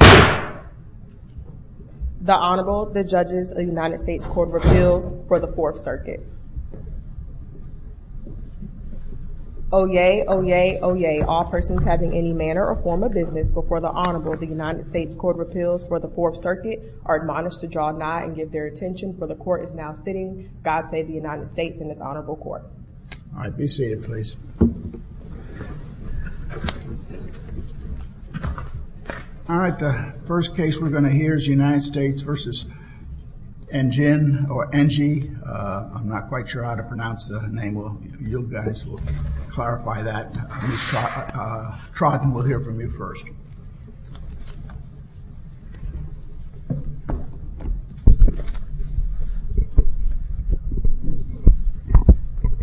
The Honorable, the judges of the United States Court of Appeals for the Fourth Circuit. Oyez, oyez, oyez, all persons having any manner or form of business before the Honorable of the United States Court of Appeals for the Fourth Circuit are admonished to draw nigh and give their attention, for the Court is now sitting. God save the United States and its Honorable Court. All right, be seated, please. All right, the first case we're going to hear is United States v. Njin or Nji. I'm not quite sure how to pronounce the name. Well, you guys will clarify that. Trotten, we'll hear from you first.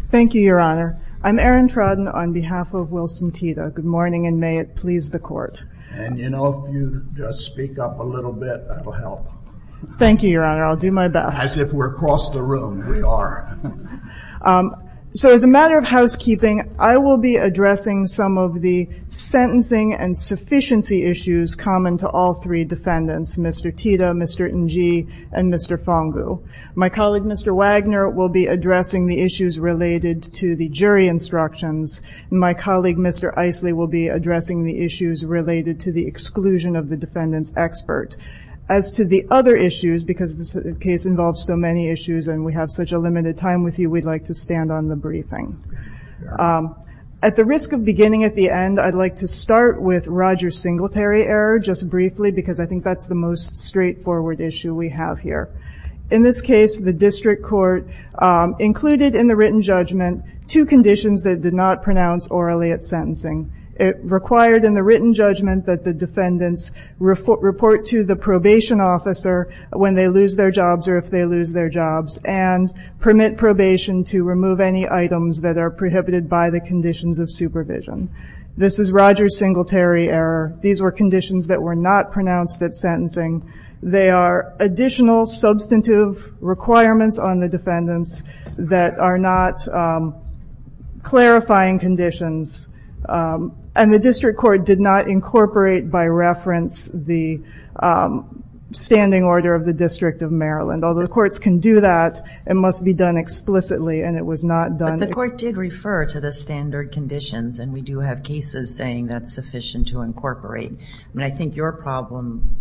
Thank you, Your Honor. I'm Erin Trotten on behalf of Wilson Tita. Good morning, and may it please the Court. And, you know, if you just speak up a little bit, that'll help. Thank you, Your Honor, I'll do my best. As if we're across the room, we are. So, as a matter of housekeeping, I will be addressing some of the sentencing and sufficiency issues common to all three defendants, Mr. Tita, Mr. Nji, and Mr. Fongu. My colleague, Mr. Wagner, will be addressing the issues related to the jury instructions. My colleague, Mr. Isley, will be addressing the issues related to the exclusion of the defendant's expert. As to the other issues, because this case involves so many issues and we have such a limited time with you, we'd like to stand on the briefing. At the risk of beginning at the end, I'd like to start with Roger Singletary error, just briefly, because I think that's the most straightforward issue we have here. In this case, the district court included in the written judgment two conditions that did not pronounce orally at sentencing. It required in the written judgment that the defendants report to the probation officer when they lose their jobs or if they lose their jobs and permit probation to remove any items that are prohibited by the conditions of supervision. This is Roger Singletary error. These were conditions that were not pronounced at sentencing. They are additional substantive requirements on the defendants that are not clarifying conditions. The district court did not incorporate by reference the standing order of the District of Maryland. Although the courts can do that, it must be done explicitly and it was not done. The court did refer to the standard conditions and we do have cases saying that's sufficient to incorporate. I think your problem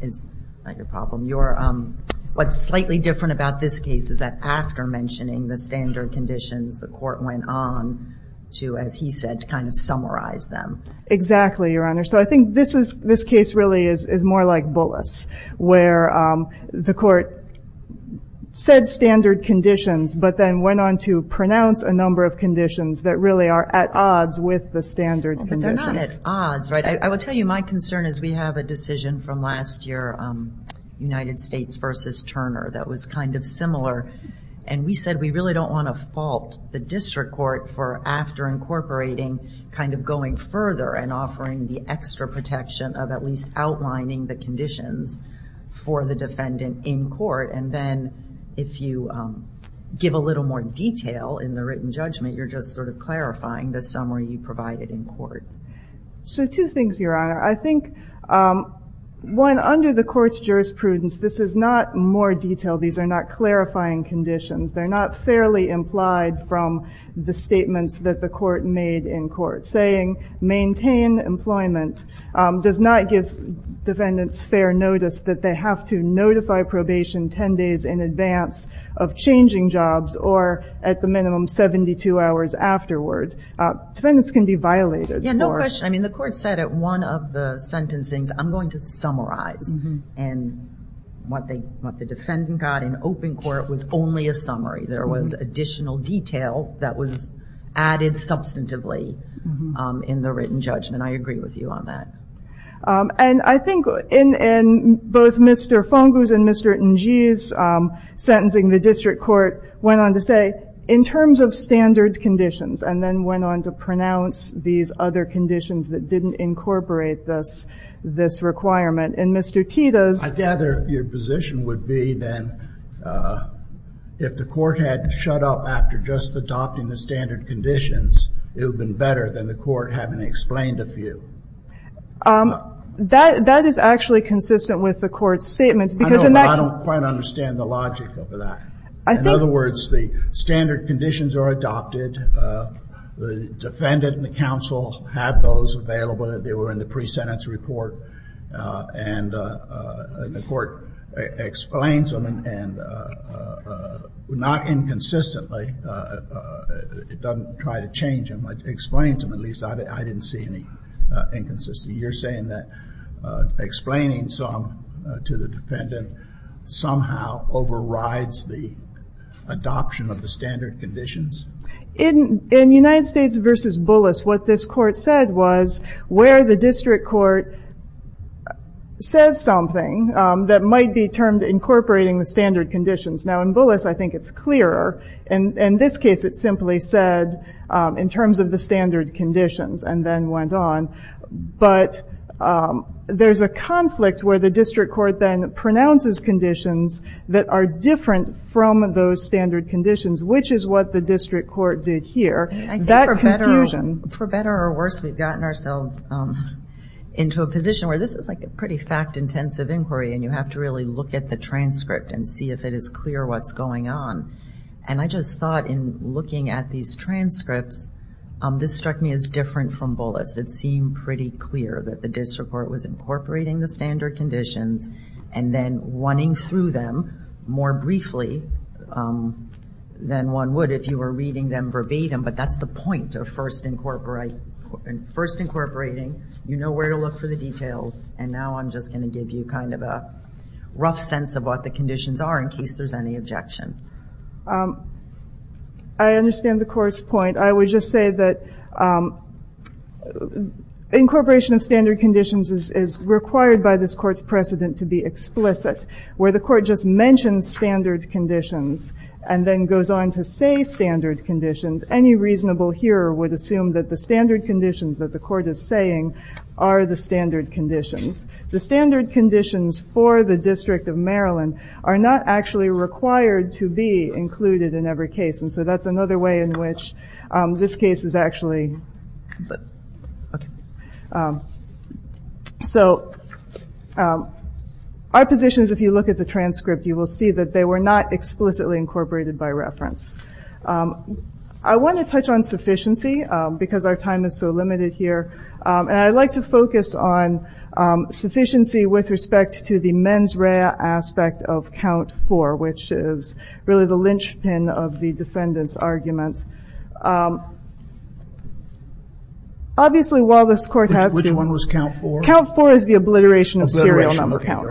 is, not your problem, what's slightly different about this case is that after mentioning the standard conditions, the court went on to, as he said, to kind of summarize them. Exactly, Your Honor. So I think this case really is more like Bullis where the court said standard conditions but then went on to pronounce a number of conditions that really are at odds with the standard conditions. But they're not at odds, right? I will tell you my concern is we have a decision from last year, United States v. Turner, that was kind of similar and we said we really don't want to fault the district court for after incorporating, kind of going further and offering the extra protection of at least outlining the conditions for the defendant in court. And then if you give a little more detail in the written judgment, you're just sort of clarifying the summary you provided in court. So two things, Your Honor. I think, one, under the court's jurisprudence, this is not more detailed. These are not clarifying conditions. They're not fairly implied from the statements that the court made in court saying maintain employment does not give defendants fair notice that they have to notify probation 10 days in advance of changing jobs or at the minimum 72 hours afterward. Defendants can be violated. Yeah, no question. I mean, the court said at one of the sentencings, I'm going to summarize and what the defendant got in open court was only a summary. There was additional detail that was added substantively in the written judgment. I agree with you on that. And I think in both Mr. Fungus and Mr. Njie's sentencing, the district court went on to say in terms of standard conditions and then went on to pronounce these other conditions that didn't incorporate this requirement. And Mr. Tito's... I gather your position would be then if the court had shut up after just adopting the standard conditions, it would have been better than the court having explained a few. That is actually consistent with the court's statements because in that... I don't quite understand the logic of that. In other words, the standard conditions are adopted, the defendant and the counsel have those available that they were in the pre-sentence report, and the court explains them and not inconsistently. It doesn't try to change them, but explains them, at least I didn't see any inconsistency. You're saying that explaining some to the defendant somehow overrides the adoption of the standard conditions? In United States v. Bullis, what this court said was where the district court says something that might be termed incorporating the standard conditions. Now in Bullis, I think it's clearer. In this case, it simply said in terms of the standard conditions and then went on. But there's a conflict where the district court then pronounces conditions that are different from those standard conditions, which is what the district court did here. That confusion... For better or worse, we've gotten ourselves into a position where this is like a pretty fact-intensive inquiry and you have to really look at the transcript and see if it is clear what's going on. I just thought in looking at these transcripts, this struck me as different from Bullis. It seemed pretty clear that the district court was incorporating the standard conditions and then running through them more briefly than one would if you were reading them verbatim. But that's the point of first incorporating, you know where to look for the details, and now I'm just going to give you kind of a rough sense of what the conditions are in case there's any objection. I understand the court's point. I would just say that incorporation of standard conditions is required by this court's precedent to be explicit. Where the court just mentions standard conditions and then goes on to say standard conditions, any reasonable hearer would assume that the standard conditions that the court is saying are the standard conditions. The standard conditions for the District of Maryland are not actually required to be included in every case. So that's another way in which this case is actually. So our position is if you look at the transcript, you will see that they were not explicitly incorporated by reference. I want to touch on sufficiency because our time is so limited here, and I'd like to focus on sufficiency with respect to the mens rea aspect of count four, which is really the defendant's argument. Obviously while this court has to- Which one was count four? Count four is the obliteration of serial number count.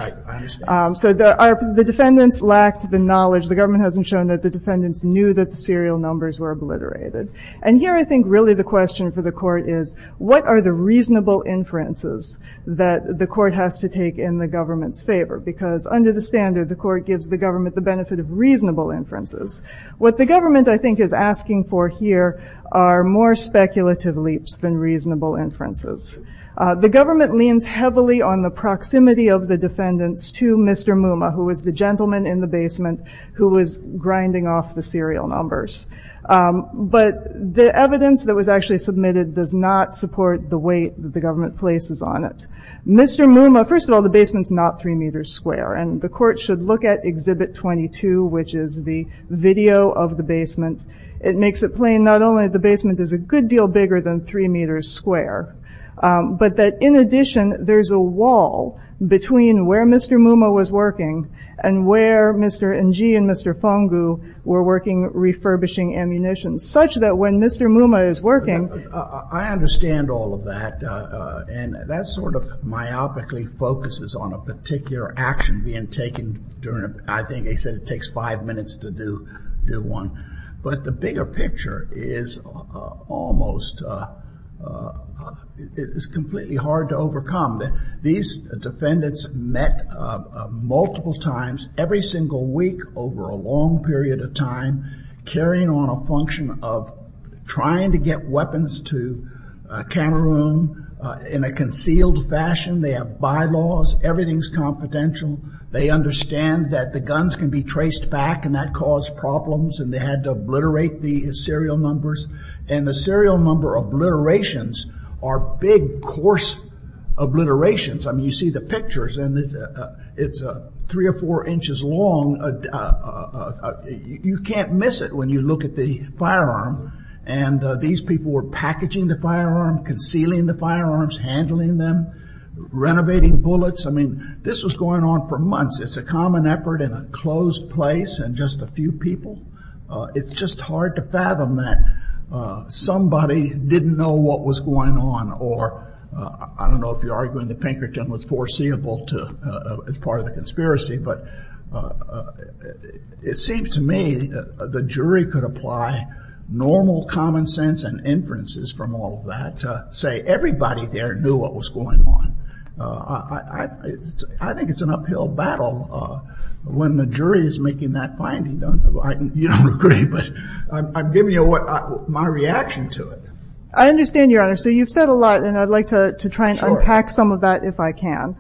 So the defendants lacked the knowledge. The government hasn't shown that the defendants knew that the serial numbers were obliterated. And here I think really the question for the court is what are the reasonable inferences that the court has to take in the government's favor? Because under the standard, the court gives the government the benefit of reasonable inferences. What the government I think is asking for here are more speculative leaps than reasonable inferences. The government leans heavily on the proximity of the defendants to Mr. Muma, who was the gentleman in the basement who was grinding off the serial numbers. But the evidence that was actually submitted does not support the weight that the government places on it. Mr. Muma, first of all, the basement's not three meters square, and the court should look at Exhibit 22, which is the video of the basement. It makes it plain not only that the basement is a good deal bigger than three meters square, but that in addition there's a wall between where Mr. Muma was working and where Mr. Nji and Mr. Fongu were working refurbishing ammunition, such that when Mr. Muma is working- I understand all of that, and that sort of myopically focuses on a particular action being taken during- I think they said it takes five minutes to do one. But the bigger picture is almost- it's completely hard to overcome. These defendants met multiple times every single week over a long period of time, carrying on a function of trying to get weapons to Cameroon in a concealed fashion. They have bylaws. Everything's confidential. They understand that the guns can be traced back, and that caused problems, and they had to obliterate the serial numbers. The serial number obliterations are big, coarse obliterations. You see the pictures, and it's three or four inches long. You can't miss it when you look at the firearm. These people were packaging the firearm, concealing the firearms, handling them, renovating bullets. This was going on for months. It's a common effort in a closed place and just a few people. It's just hard to fathom that somebody didn't know what was going on, or I don't know if you're arguing that Pinkerton was foreseeable as part of the conspiracy, but it seems to me that the jury could apply normal common sense and inferences from all of that to say everybody there knew what was going on. I think it's an uphill battle when the jury is making that finding. You don't agree, but I'm giving you my reaction to it. I understand, Your Honor, so you've said a lot, and I'd like to try and unpack some of that if I can.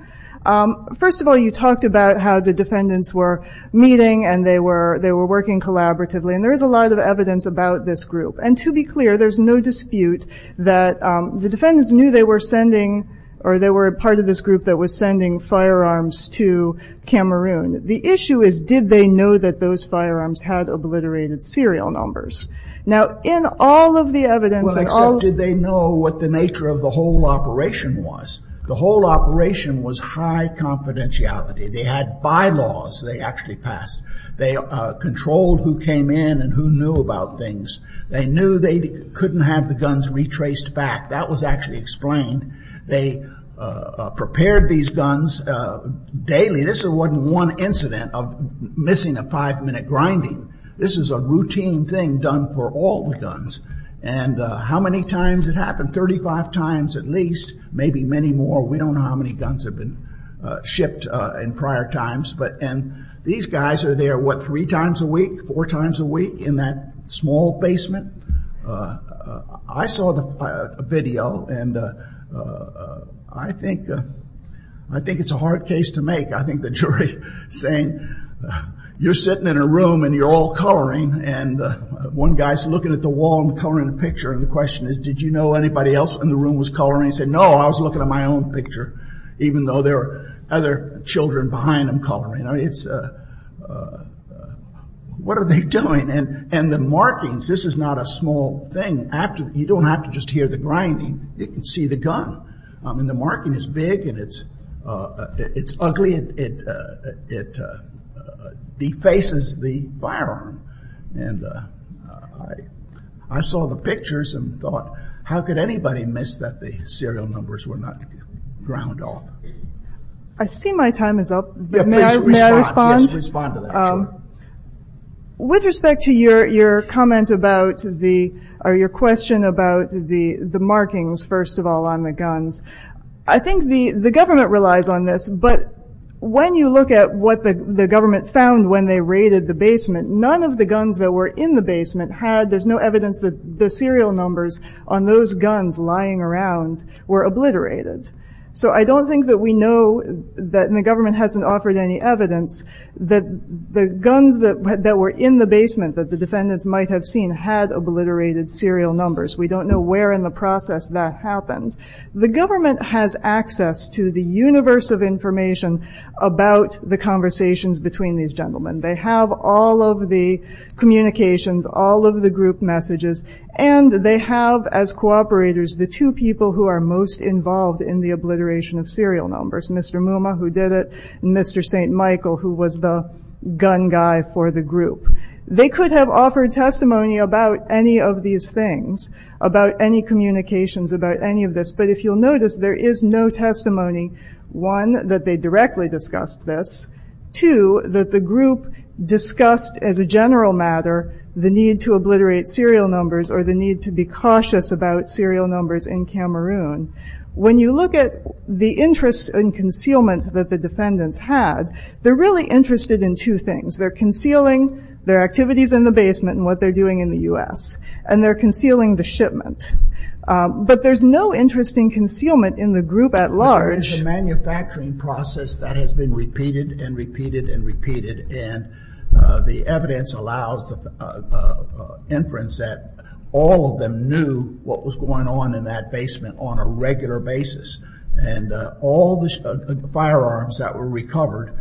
First of all, you talked about how the defendants were meeting and they were working collaboratively, and there is a lot of evidence about this group. To be clear, there's no dispute that the defendants knew they were sending, or they were part of this group that was sending firearms to Cameroon. The issue is did they know that those firearms had obliterated serial numbers? Now, in all of the evidence... Well, except did they know what the nature of the whole operation was. The whole operation was high confidentiality. They had bylaws they actually passed. They controlled who came in and who knew about things. They knew they couldn't have the guns retraced back. That was actually explained. They prepared these guns daily. This wasn't one incident of missing a five-minute grinding. This is a routine thing done for all the guns. How many times it happened? Thirty-five times at least, maybe many more. We don't know how many guns have been shipped in prior times. These guys are there, what, three times a week, four times a week in that small basement? I saw the video, and I think it's a hard case to make. I think the jury saying, you're sitting in a room and you're all coloring, and one guy's looking at the wall and coloring a picture. The question is, did you know anybody else in the room was coloring? He said, no, I was looking at my own picture, even though there are other children behind him coloring. What are they doing? The markings, this is not a small thing. You don't have to just hear the grinding. You can see the gun. The marking is big, and it's ugly. It defaces the firearm, and the markings are big. I saw the pictures and thought, how could anybody miss that the serial numbers were not ground off? I see my time is up, but may I respond? With respect to your question about the markings, first of all, on the guns, I think the government relies on this, but when you look at what the government found when they raided the basement, none of the guns that were in the basement had, there's no evidence that the serial numbers on those guns lying around were obliterated. I don't think that we know that, and the government hasn't offered any evidence, that the guns that were in the basement that the defendants might have seen had obliterated serial numbers. We don't know where in the process that happened. The government has access to the universe of information about the conversations between these gentlemen. They have all of the communications, all of the group messages, and they have as cooperators the two people who are most involved in the obliteration of serial numbers, Mr. Mumma, who did it, and Mr. St. Michael, who was the gun guy for the group. They could have offered testimony about any of these things, about any communications, about any of this, but if you'll notice, there is no testimony, one, that they directly discussed this, two, that the group discussed as a general matter the need to obliterate serial numbers or the need to be cautious about serial numbers in Cameroon. When you look at the interest and concealment that the defendants had, they're really interested in two things. They're concealing their activities in the basement and what they're doing in the U.S., and they're concealing the shipment, but there's no interest in concealment in the group at large. There is a manufacturing process that has been repeated and repeated and repeated, and the evidence allows inference that all of them knew what was going on in that basement on a regular basis, and all the firearms that were recovered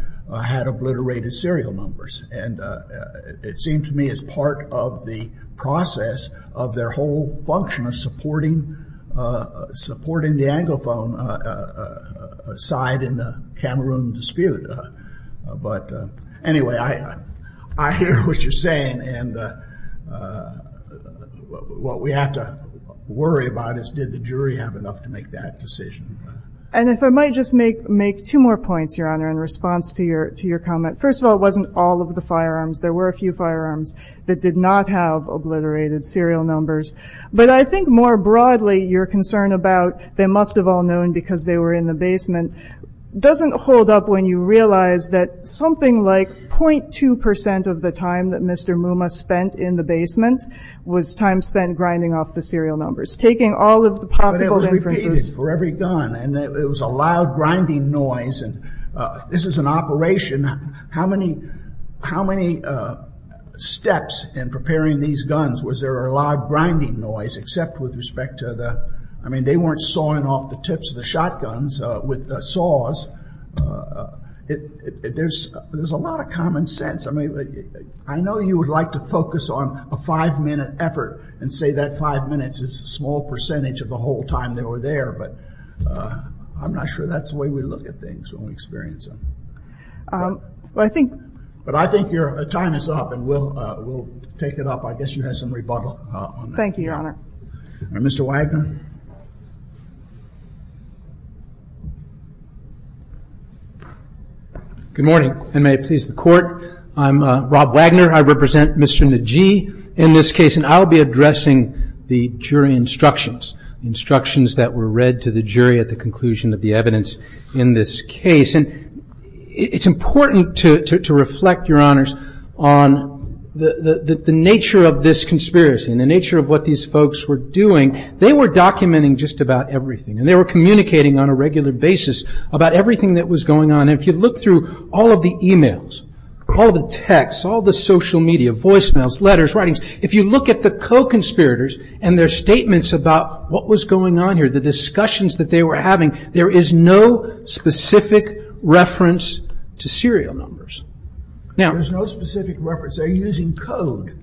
had obliterated serial numbers. And it seems to me it's part of the process of their whole function of supporting the Anglophone side in the Cameroon dispute. But anyway, I hear what you're saying, and what we have to worry about is did the jury have enough to make that decision. And if I might just make two more points, Your Honor, in response to your comment. First of all, it wasn't all of the firearms. There were a few firearms that did not have obliterated serial numbers. But I think more broadly, your concern about they must have all known because they were in the basement doesn't hold up when you realize that something like 0.2 percent of the time that Mr. Mumma spent in the basement was time spent grinding off the serial numbers, taking all of the possible inferences. But it was repeated for every gun, and it was a loud grinding noise, and this is an operation. How many steps in preparing these guns was there a loud grinding noise except with respect to the, I mean they weren't sawing off the tips of the shotguns with saws. There's a lot of common sense. I mean, I know you would like to focus on a five minute effort and say that five minutes is a small percentage of the whole time they were there, but I'm not sure that's the way we look at things when we experience them. But I think your time is up, and we'll take it up. I guess you have some rebuttal on that. Thank you, Your Honor. Mr. Wagner. Good morning, and may it please the Court. I'm Rob Wagner. I represent Mr. Najee in this case, and I'll be addressing the jury instructions, instructions that were read to the jury at the conclusion of the evidence in this case. And it's important to reflect, Your Honors, on the nature of this conspiracy and the nature of what these folks were doing. They were documenting just about everything, and they were communicating on a regular basis about everything that was going on. And if you look through all of the e-mails, all the texts, all the social media, voicemails, letters, writings, if you look at the co-conspirators and their statements about what was going on here, the discussions that they were having, there is no specific reference to serial numbers. There's no specific reference. They're using code.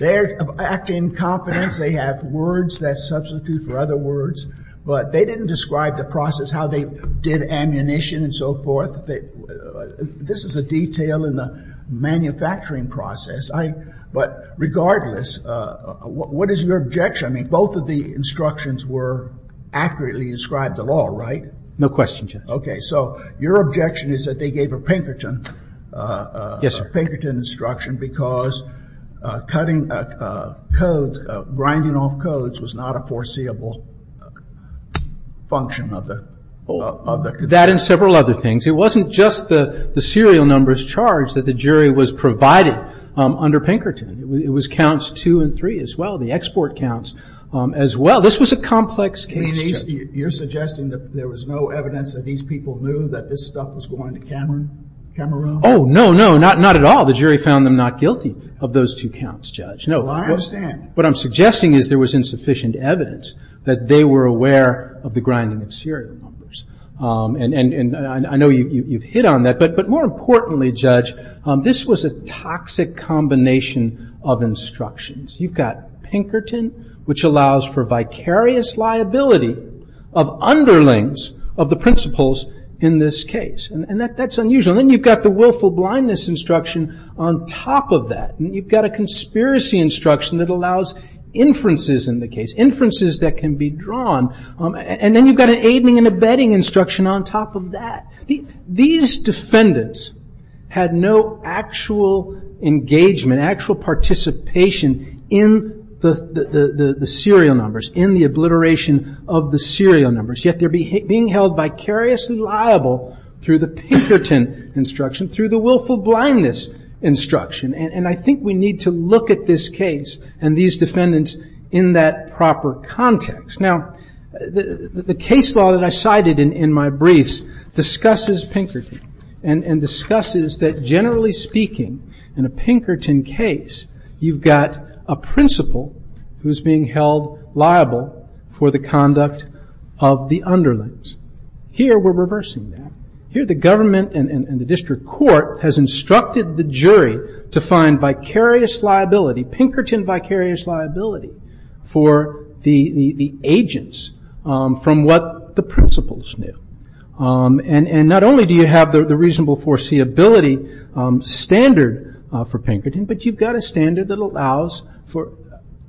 They act in confidence. They have words that substitute for other words. But they didn't describe the process, how they did ammunition and so forth. This is a detail in the manufacturing process. But regardless, what is your objection? I mean, both of the instructions were accurately described at all, right? No question, Judge. Okay. So your objection is that they gave a Pinkerton instruction because cutting code, grinding off codes was not a foreseeable function of the conspiracy. That and several other things. It wasn't just the serial numbers charged that the jury was provided under Pinkerton. It was counts two and three as well, the export counts as well. This was a complex case. You're suggesting that there was no evidence that these people knew that this stuff was going to Cameroon? Oh, no, no. Not at all. The jury found them not guilty of those two counts, Judge. No. Well, I understand. What I'm suggesting is there was insufficient evidence that they were aware of the grinding of serial numbers. And I know you've hit on that. But more importantly, Judge, this was a toxic combination of instructions. You've got Pinkerton, which allows for vicarious liability of underlings of the principles in this case. And that's unusual. And then you've got the willful blindness instruction on top of that. And you've got a conspiracy instruction that allows inferences in the case, inferences that can be drawn. And then you've got an aiding and abetting instruction on top of that. These defendants had no actual engagement, actual participation in the serial numbers, in the obliteration of the serial numbers. Yet they're being held vicariously liable through the Pinkerton instruction, through the willful blindness instruction. And I think we need to look at this case and these defendants in that proper context. Now, the case law that I cited in my briefs discusses Pinkerton and discusses that generally speaking in a Pinkerton case, you've got a principal who's being held liable for the conduct of the underlings. Here we're reversing that. Here the government and the district court has instructed the jury to find vicarious liability, Pinkerton vicarious liability, for the agents from what the principals knew. And not only do you have the reasonable foreseeability standard for Pinkerton, but you've got a standard that allows for...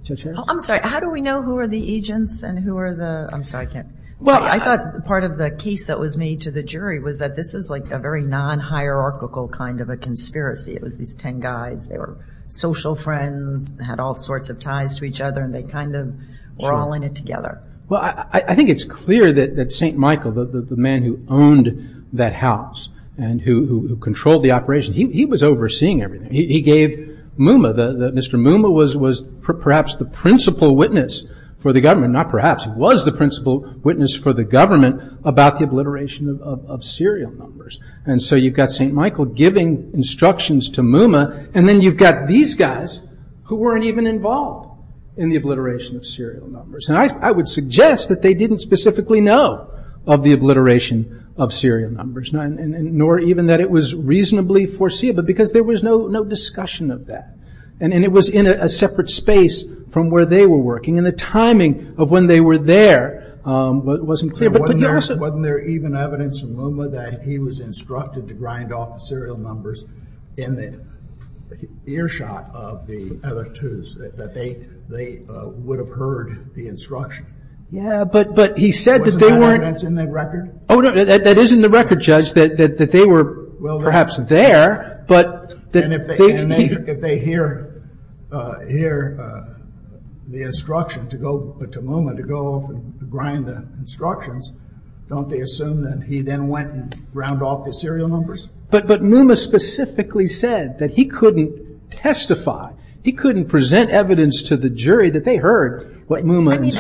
Judge Harris? Judge Harris. I'm sorry. How do we know who are the agents and who are the... I'm sorry, I can't... Well, I thought part of the case that was made to the jury was that this is like a very non-hierarchical kind of a conspiracy. It was these 10 guys. They were social friends, had all sorts of ties to each other and they kind of were all in it together. Well, I think it's clear that St. Michael, the man who owned that house and who controlled the operation, he was overseeing everything. He gave Mooma, Mr. Mooma was perhaps the principal witness for the government. Not perhaps, he was the principal witness for the government about the obliteration of serial numbers. And so you've got St. Michael giving instructions to Mooma, and then you've got these guys who weren't even involved in the obliteration of serial numbers. And I would suggest that they didn't specifically know of the obliteration of serial numbers, nor even that it was reasonably foreseeable, because there was no discussion of that. And it was in a separate space from where they were working. And the timing of when they were there wasn't clear, but you also... Wasn't there even evidence from Mooma that he was instructed to grind off the serial numbers in the earshot of the other twos, that they would have heard the instruction? Yeah, but he said that they weren't... Wasn't that evidence in the record? Oh, no, that is in the record, Judge, that they were perhaps there, but... And if they hear the instruction to go to Mooma to go off and grind the instructions, don't they assume that he then went and ground off the serial numbers? But Mooma specifically said that he couldn't testify, he couldn't present evidence to the jury that they heard what Mooma... He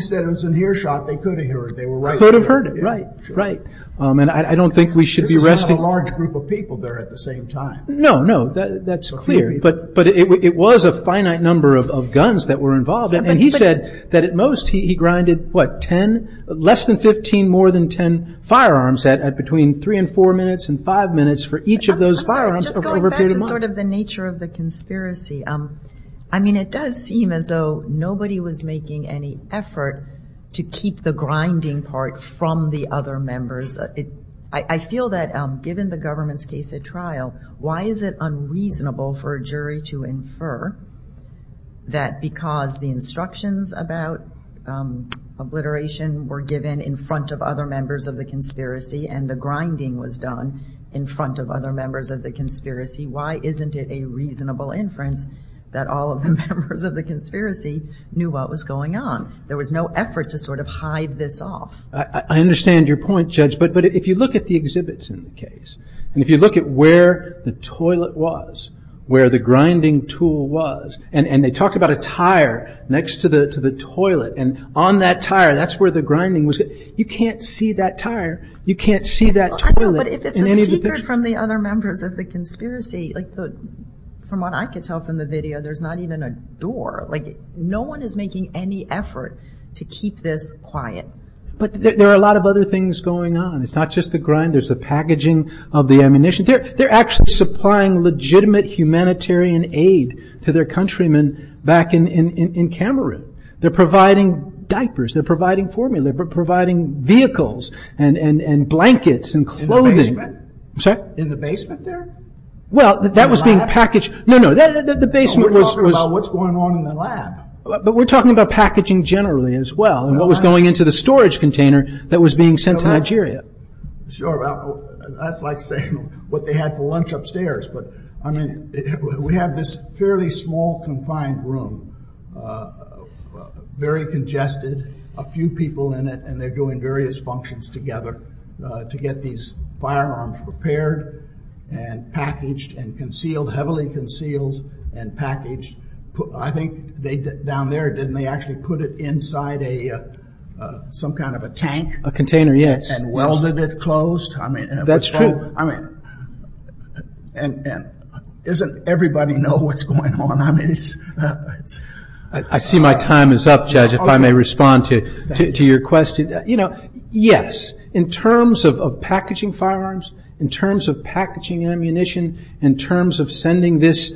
said it was an earshot, they could have heard, they were right there. Could have heard it, right, right. And I don't think we should be arresting... This is not a large group of people there at the same time. No, no, that's clear, but it was a finite number of guns that were involved, and he said that at most he grinded, what, 10, less than 15, more than 10 firearms at between three and four minutes and five minutes for each of those firearms over a period of time. Just going back to sort of the nature of the conspiracy, I mean, it does seem as though nobody was making any effort to keep the grinding part from the other members. I feel that given the government's case at trial, why is it unreasonable for a jury to infer that because the instructions about obliteration were given in front of other members of the conspiracy and the grinding was done in front of other members of the conspiracy, why isn't it a reasonable inference that all of the members of the conspiracy knew what was going on? There was no effort to sort of hide this off. I understand your point, Judge, but if you look at the exhibits in the case, and if you look at where the toilet was, where the grinding tool was, and they talked about a tire next to the toilet, and on that tire, that's where the grinding was, you can't see that tire, you can't see that toilet. No, but if it's a secret from the other members of the conspiracy, from what I can tell from the video, there's not even a door. No one is making any effort to keep this quiet. But there are a lot of other things going on. It's not just the grind, there's the packaging of the ammunition. They're actually supplying legitimate humanitarian aid to their countrymen back in Cameroon. They're providing diapers, they're providing vehicles, and blankets, and clothing. I'm sorry? In the basement there? Well, that was being packaged. No, no. We're talking about what's going on in the lab. But we're talking about packaging generally as well, and what was going into the storage container that was being sent to Nigeria. Sure. That's like saying what they had for lunch upstairs. We have this fairly small confined room, very congested, a few people in it, and they're doing various functions together to get these firearms prepared and packaged and concealed, heavily concealed and packaged. I think down there, didn't they actually put it inside some kind of a tank? A container, yes. And welded it closed? That's true. I mean, doesn't everybody know what's going on? I see my time is up, Judge, if I may respond to your question. You know, yes, in terms of packaging firearms, in terms of packaging ammunition, in terms of sending these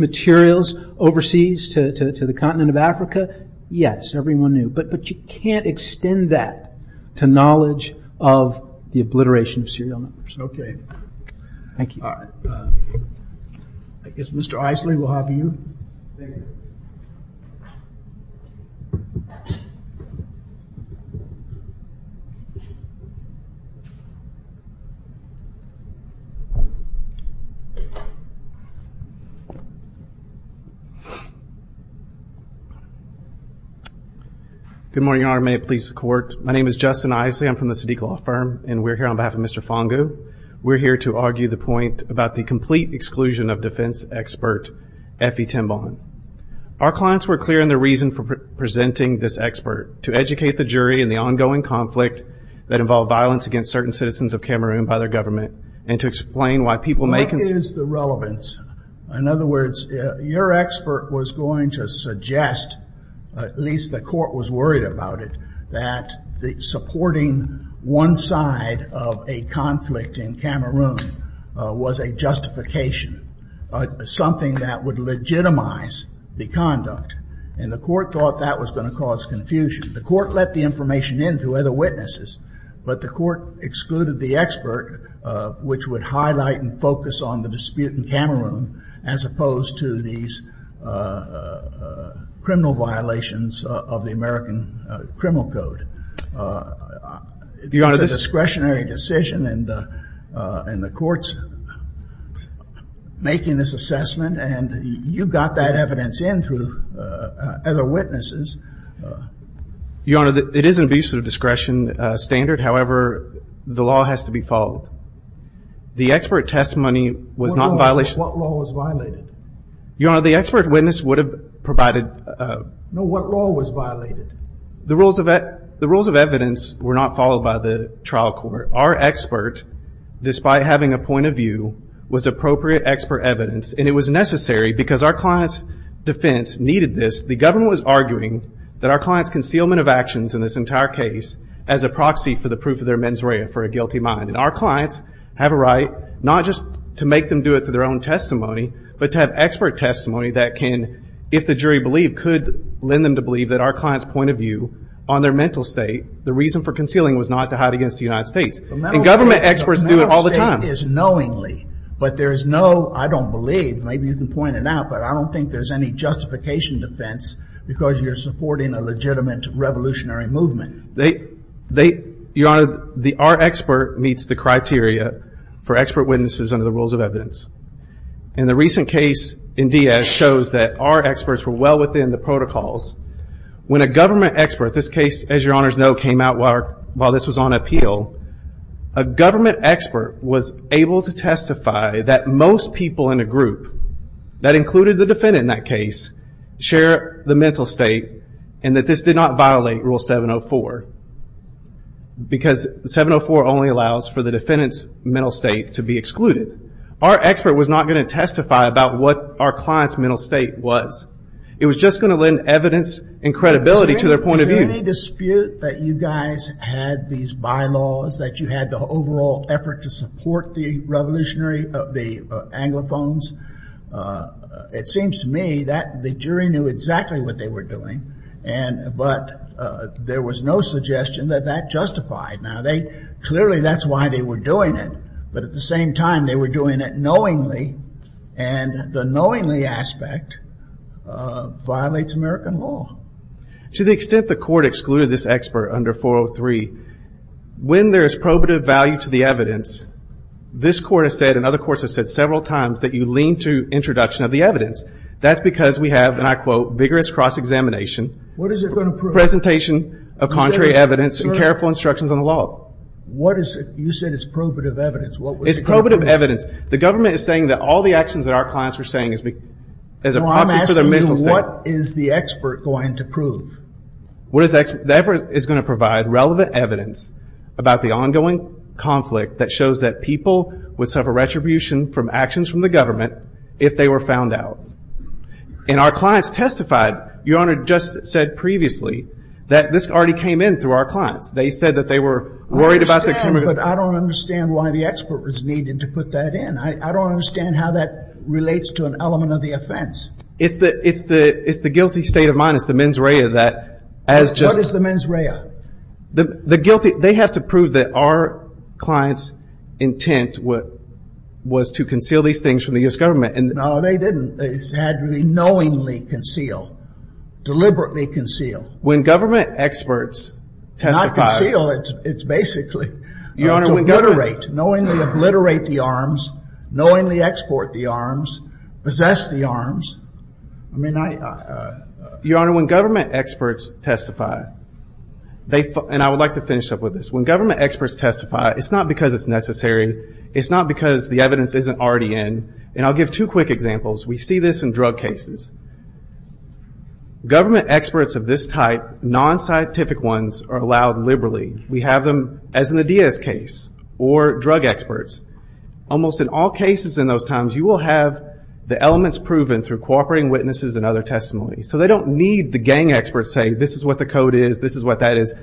materials overseas to the continent of Africa, yes, everyone knew. But you can't extend that to knowledge of the continent. Thank you. All right. I guess Mr. Isley, we'll have you. Thank you. Good morning, Your Honor. May it please the Court. My name is Justin Isley. I'm from the Sadiq Law Firm, and we're here on behalf of Mr. Fongu. We're here to argue the point about the complete exclusion of defense expert Effie Timbon. Our clients were clear in their reason for presenting this expert, to educate the jury in the ongoing conflict that involved violence against certain citizens of Cameroon by their government, and to explain why people making What is the relevance? In other words, your expert was going to suggest, at least the Court was worried about it, that supporting one side of a conflict in Cameroon was a justification, something that would legitimize the conduct, and the Court thought that was going to cause confusion. The Court let the information in through other witnesses, but the Court excluded the expert, which would highlight and focus on the dispute in criminal code. It's a discretionary decision, and the Court's making this assessment, and you got that evidence in through other witnesses. Your Honor, it is an abuse of discretion standard. However, the law has to be followed. The expert testimony was not in violation of What law was violated? Your Honor, the expert witness would have provided No, what law was violated? The rules of evidence were not followed by the trial court. Our expert, despite having a point of view, was appropriate expert evidence, and it was necessary because our client's defense needed this. The government was arguing that our client's concealment of actions in this entire case as a proxy for the proof of their mens rea, for a guilty mind. And our clients have a right, not just to make them do it through their own testimony, but to have expert testimony that can, if the jury believed, could lend them to believe that our client's point of view on their mental state, the reason for concealing was not to hide against the United States. Government experts do it all the time. The mental state is knowingly, but there is no, I don't believe, maybe you can point it out, but I don't think there's any justification defense because you're supporting a legitimate revolutionary movement. Your Honor, our expert meets the criteria for expert witnesses under the protocol, and the recent case in Diaz shows that our experts were well within the protocols. When a government expert, this case, as your Honor's know, came out while this was on appeal, a government expert was able to testify that most people in a group, that included the defendant in that case, share the mental state and that this did not violate Rule 704, because 704 only allows for the defendant's mental state to be excluded. Our expert was not going to testify about what our client's mental state was. It was just going to lend evidence and credibility to their point of view. Was there any dispute that you guys had these bylaws, that you had the overall effort to support the revolutionary, the anglophones? It seems to me that the jury knew exactly what they were doing, but there was no suggestion that that justified. Clearly that's why they were doing it, but at the same time they were doing it knowingly, and the knowingly aspect violates American law. To the extent the court excluded this expert under 403, when there is probative value to the evidence, this court has said and other courts have said several times that you lean to introduction of the evidence. That's because we have, and I quote, vigorous cross-examination. What is it going to prove? It's a presentation of contrary evidence and careful instructions on the law. You said it's probative evidence. It's probative evidence. The government is saying that all the actions that our clients were saying is a process for their mental state. I'm asking you, what is the expert going to prove? The expert is going to provide relevant evidence about the ongoing conflict that shows that people would suffer retribution from actions from the government if they were found out. And our clients testified, Your Honor just said previously, that this already came in through our clients. They said that they were worried about the camera. I understand, but I don't understand why the expert was needed to put that in. I don't understand how that relates to an element of the offense. It's the guilty state of mind. It's the mens rea. What is the mens rea? They have to prove that our client's intent was to conceal these things from the U.S. government. No, they didn't. It had to be knowingly concealed. Deliberately concealed. When government experts testify. Not conceal. It's basically to obliterate. Knowingly obliterate the arms. Knowingly export the arms. Possess the arms. Your Honor, when government experts testify, and I would like to finish up with this, when government experts testify, it's not because it's necessary. It's not because the evidence isn't already in. And I'll give two quick examples. We see this in drug cases. Government experts of this type, non-scientific ones, are allowed liberally. We have them, as in the Diaz case, or drug experts. Almost in all cases in those times, you will have the elements proven through cooperating witnesses and other testimony. So they don't need the gang experts to say, this is what the code is, this is what that is.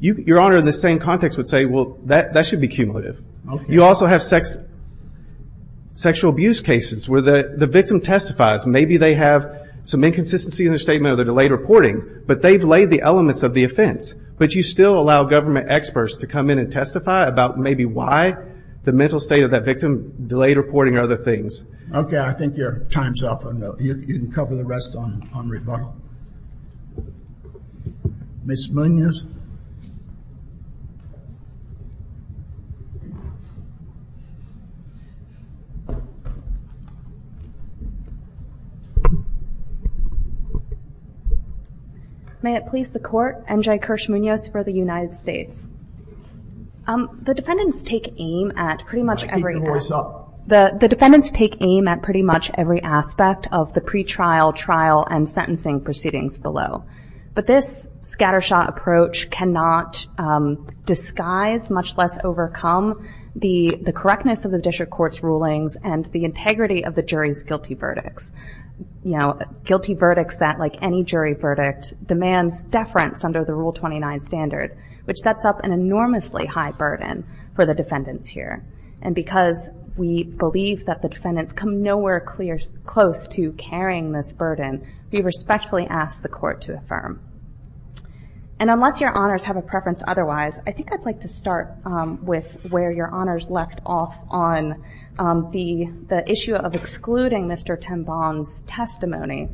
Your Honor, in the same context, would say, well, that should be cumulative. Okay. You also have sexual abuse cases where the victim testifies. Maybe they have some inconsistency in their statement or they're delayed reporting. But they've laid the elements of the offense. But you still allow government experts to come in and testify about maybe why the mental state of that victim, delayed reporting, or other things. Okay. I think your time's up. You can cover the rest on rebuttal. Ms. Munoz? May it please the Court, N.J. Kirsch Munoz for the United States. The defendants take aim at pretty much every... Keep your voice up. The defendants take aim at pretty much every aspect of the pretrial, trial, and sentencing proceedings below. But this scattershot approach cannot disguise, much less overcome, the correctness of the district court's rulings and the integrity of the jury's guilty verdicts. You know, guilty verdicts that, like any jury verdict, demands deference under the Rule 29 standard, which sets up an enormously high burden for the defendants here. And because we believe that the defendants come nowhere close to carrying this burden, we respectfully ask the Court to affirm. And unless your honors have a preference otherwise, I think I'd like to start with where your honors left off on the issue of excluding Mr. Tenbon's testimony.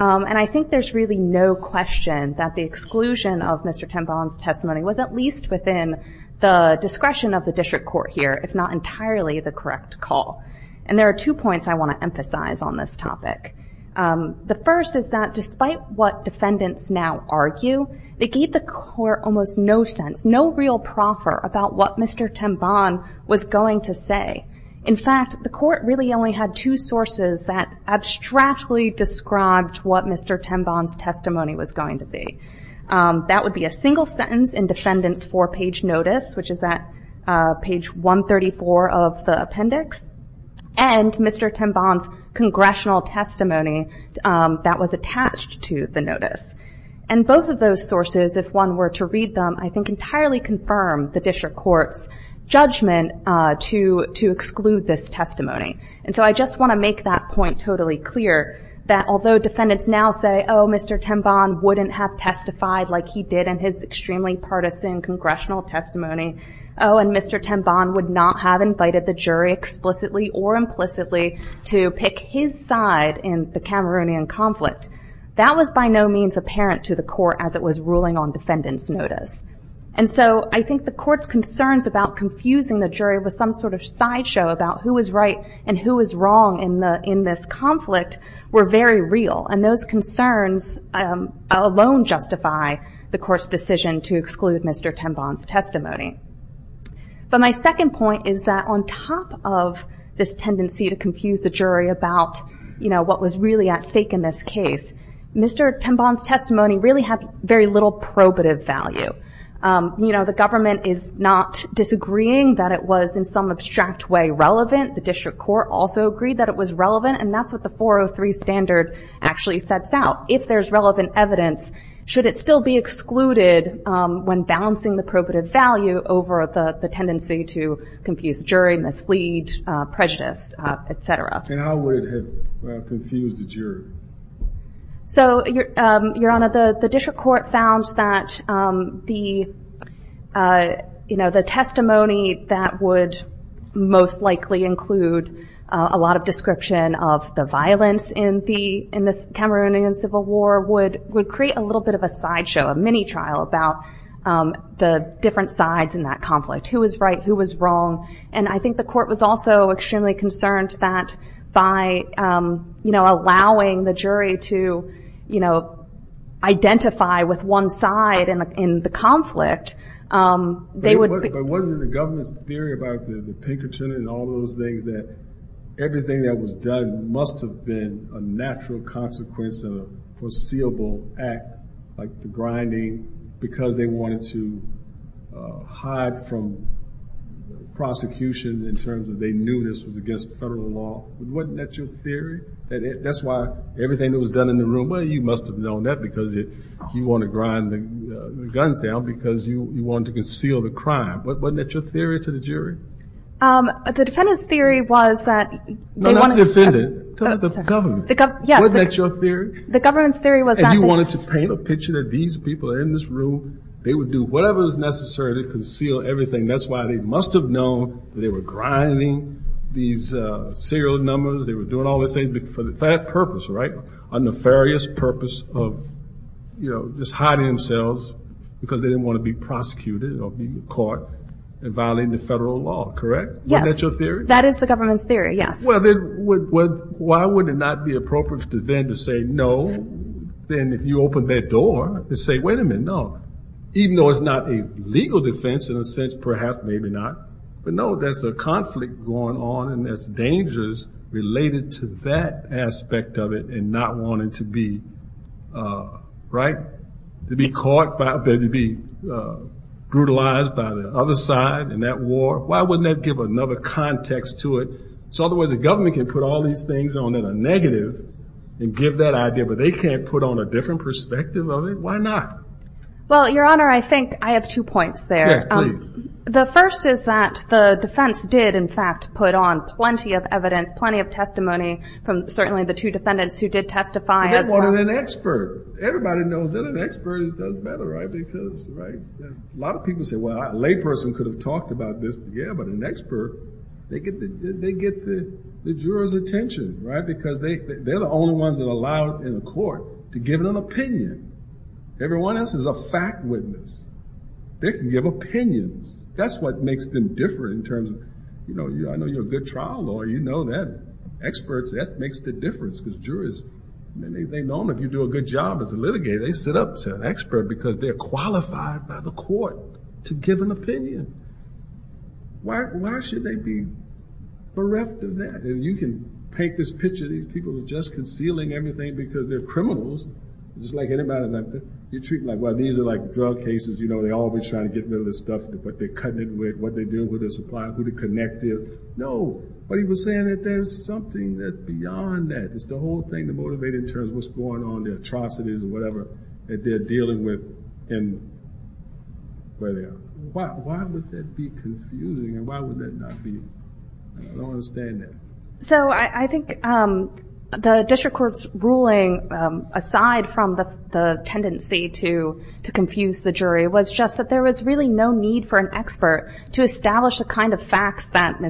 And I think there's really no question that the exclusion of Mr. Tenbon's testimony was at least within the discretion of the district court here, if not entirely the correct call. And there are two points I want to emphasize on this topic. The first is that despite what defendants now argue, they gave the Court almost no sense, no real proffer about what Mr. Tenbon was going to say. In fact, the Court really only had two sources that abstractly described what Mr. Tenbon's testimony was going to be. That would be a single sentence in defendants' four-page notice, which is at page 134 of the appendix, and Mr. Tenbon's congressional testimony that was attached to the notice. And both of those sources, if one were to read them, I think entirely confirm the district court's judgment to exclude this testimony. And so I just want to make that point totally clear that although defendants now say, oh, Mr. Tenbon wouldn't have testified like he did in his extremely partisan congressional testimony, oh, and Mr. Tenbon would not have invited the jury explicitly or implicitly to pick his side in the Cameroonian conflict. That was by no means apparent to the Court as it was ruling on defendants' notice. And so I think the Court's concerns about confusing the jury with some sort of sideshow about who was right and who was wrong in this conflict were very real. And those concerns alone justify the Court's decision to exclude Mr. Tenbon's testimony. But my second point is that on top of this tendency to confuse the jury about what was really at stake in this case, Mr. Tenbon's testimony really had very little probative value. The government is not disagreeing that it was in some abstract way relevant. The district court also agreed that it was relevant, and that's what the 403 standard actually sets out. If there's relevant evidence, should it still be excluded when balancing the probative value over the tendency to confuse jury, mislead, prejudice, et cetera? And how would it have confused the jury? So, Your Honor, the district court found that the testimony that would most likely include a lot of description of the violence in the Cameroonian Civil War would create a little bit of a sideshow, a mini-trial about the different sides in that conflict, who was right, who was wrong. And I think the Court was also extremely concerned that by, you know, allowing the jury to, you know, identify with one side in the conflict, they would... But wasn't the government's theory about the Pinkerton and all those things that everything that was done must have been a natural consequence of a foreseeable act, like the grinding, because they wanted to hide from prosecution in terms that they knew this was against federal law. Wasn't that your theory? That's why everything that was done in the room... Well, you must have known that because you want to grind the guns down because you want to conceal the crime. Wasn't that your theory to the jury? The defendant's theory was that... No, not the defendant. The government. Wasn't that your theory? The government's theory was that... And you wanted to paint a picture that these people in this room, they would do whatever was necessary to conceal everything. That's why they must have known that they were grinding these serial numbers, they were doing all these things for that purpose, right? A nefarious purpose of, you know, just hiding themselves because they didn't want to be prosecuted or be caught in violating the federal law. Correct? Yes. That is the government's theory, yes. Well, then why would it not be appropriate for the defendant to say no then if you open that door and say, wait a minute, no. Even though it's not a legal defense in a sense, perhaps, maybe not. But no, there's a conflict going on and there's dangers related to that aspect of it and not wanting to be, right, to be brutalized by the other side in that war. Why wouldn't that give another context to it? So otherwise the government can put all these things on a negative and give that idea, but they can't put on a different perspective of it? Why not? Well, Your Honor, I think I have two points there. Yes, please. The first is that the defense did, in fact, put on plenty of evidence, plenty of testimony from certainly the two defendants who did testify as well. A bit more than an expert. Everybody knows that an expert does better, right? A lot of people say, well, a lay person could have talked about this, but yeah, but an expert, they get the jurors' attention, right, because they're the only ones that are allowed in the court to give an opinion. Everyone else is a fact witness. They can give opinions. That's what makes them different in terms of, I know you're a good trial lawyer, you know that. Experts, that makes the difference because jurors, they know if you do a good job as a litigator, they sit up to an expert because they're qualified by the court to give an opinion. Why should they be bereft of that? And you can paint this picture of these people just concealing everything because they're criminals, just like anybody. You treat them like, well, these are like drug cases, you know, they're always trying to get rid of the stuff, what they're cutting it with, what they're doing with their supply, who to connect it. No. But he was saying that there's something that's beyond that. It's the whole thing to motivate in terms of what's going on, the atrocities or whatever that they're dealing with and where they are. Why would that be confusing and why would that not be? I don't understand that. So I think the district court's ruling, aside from the tendency to confuse the jury, was just that there was really no need for an expert to establish the kind of facts that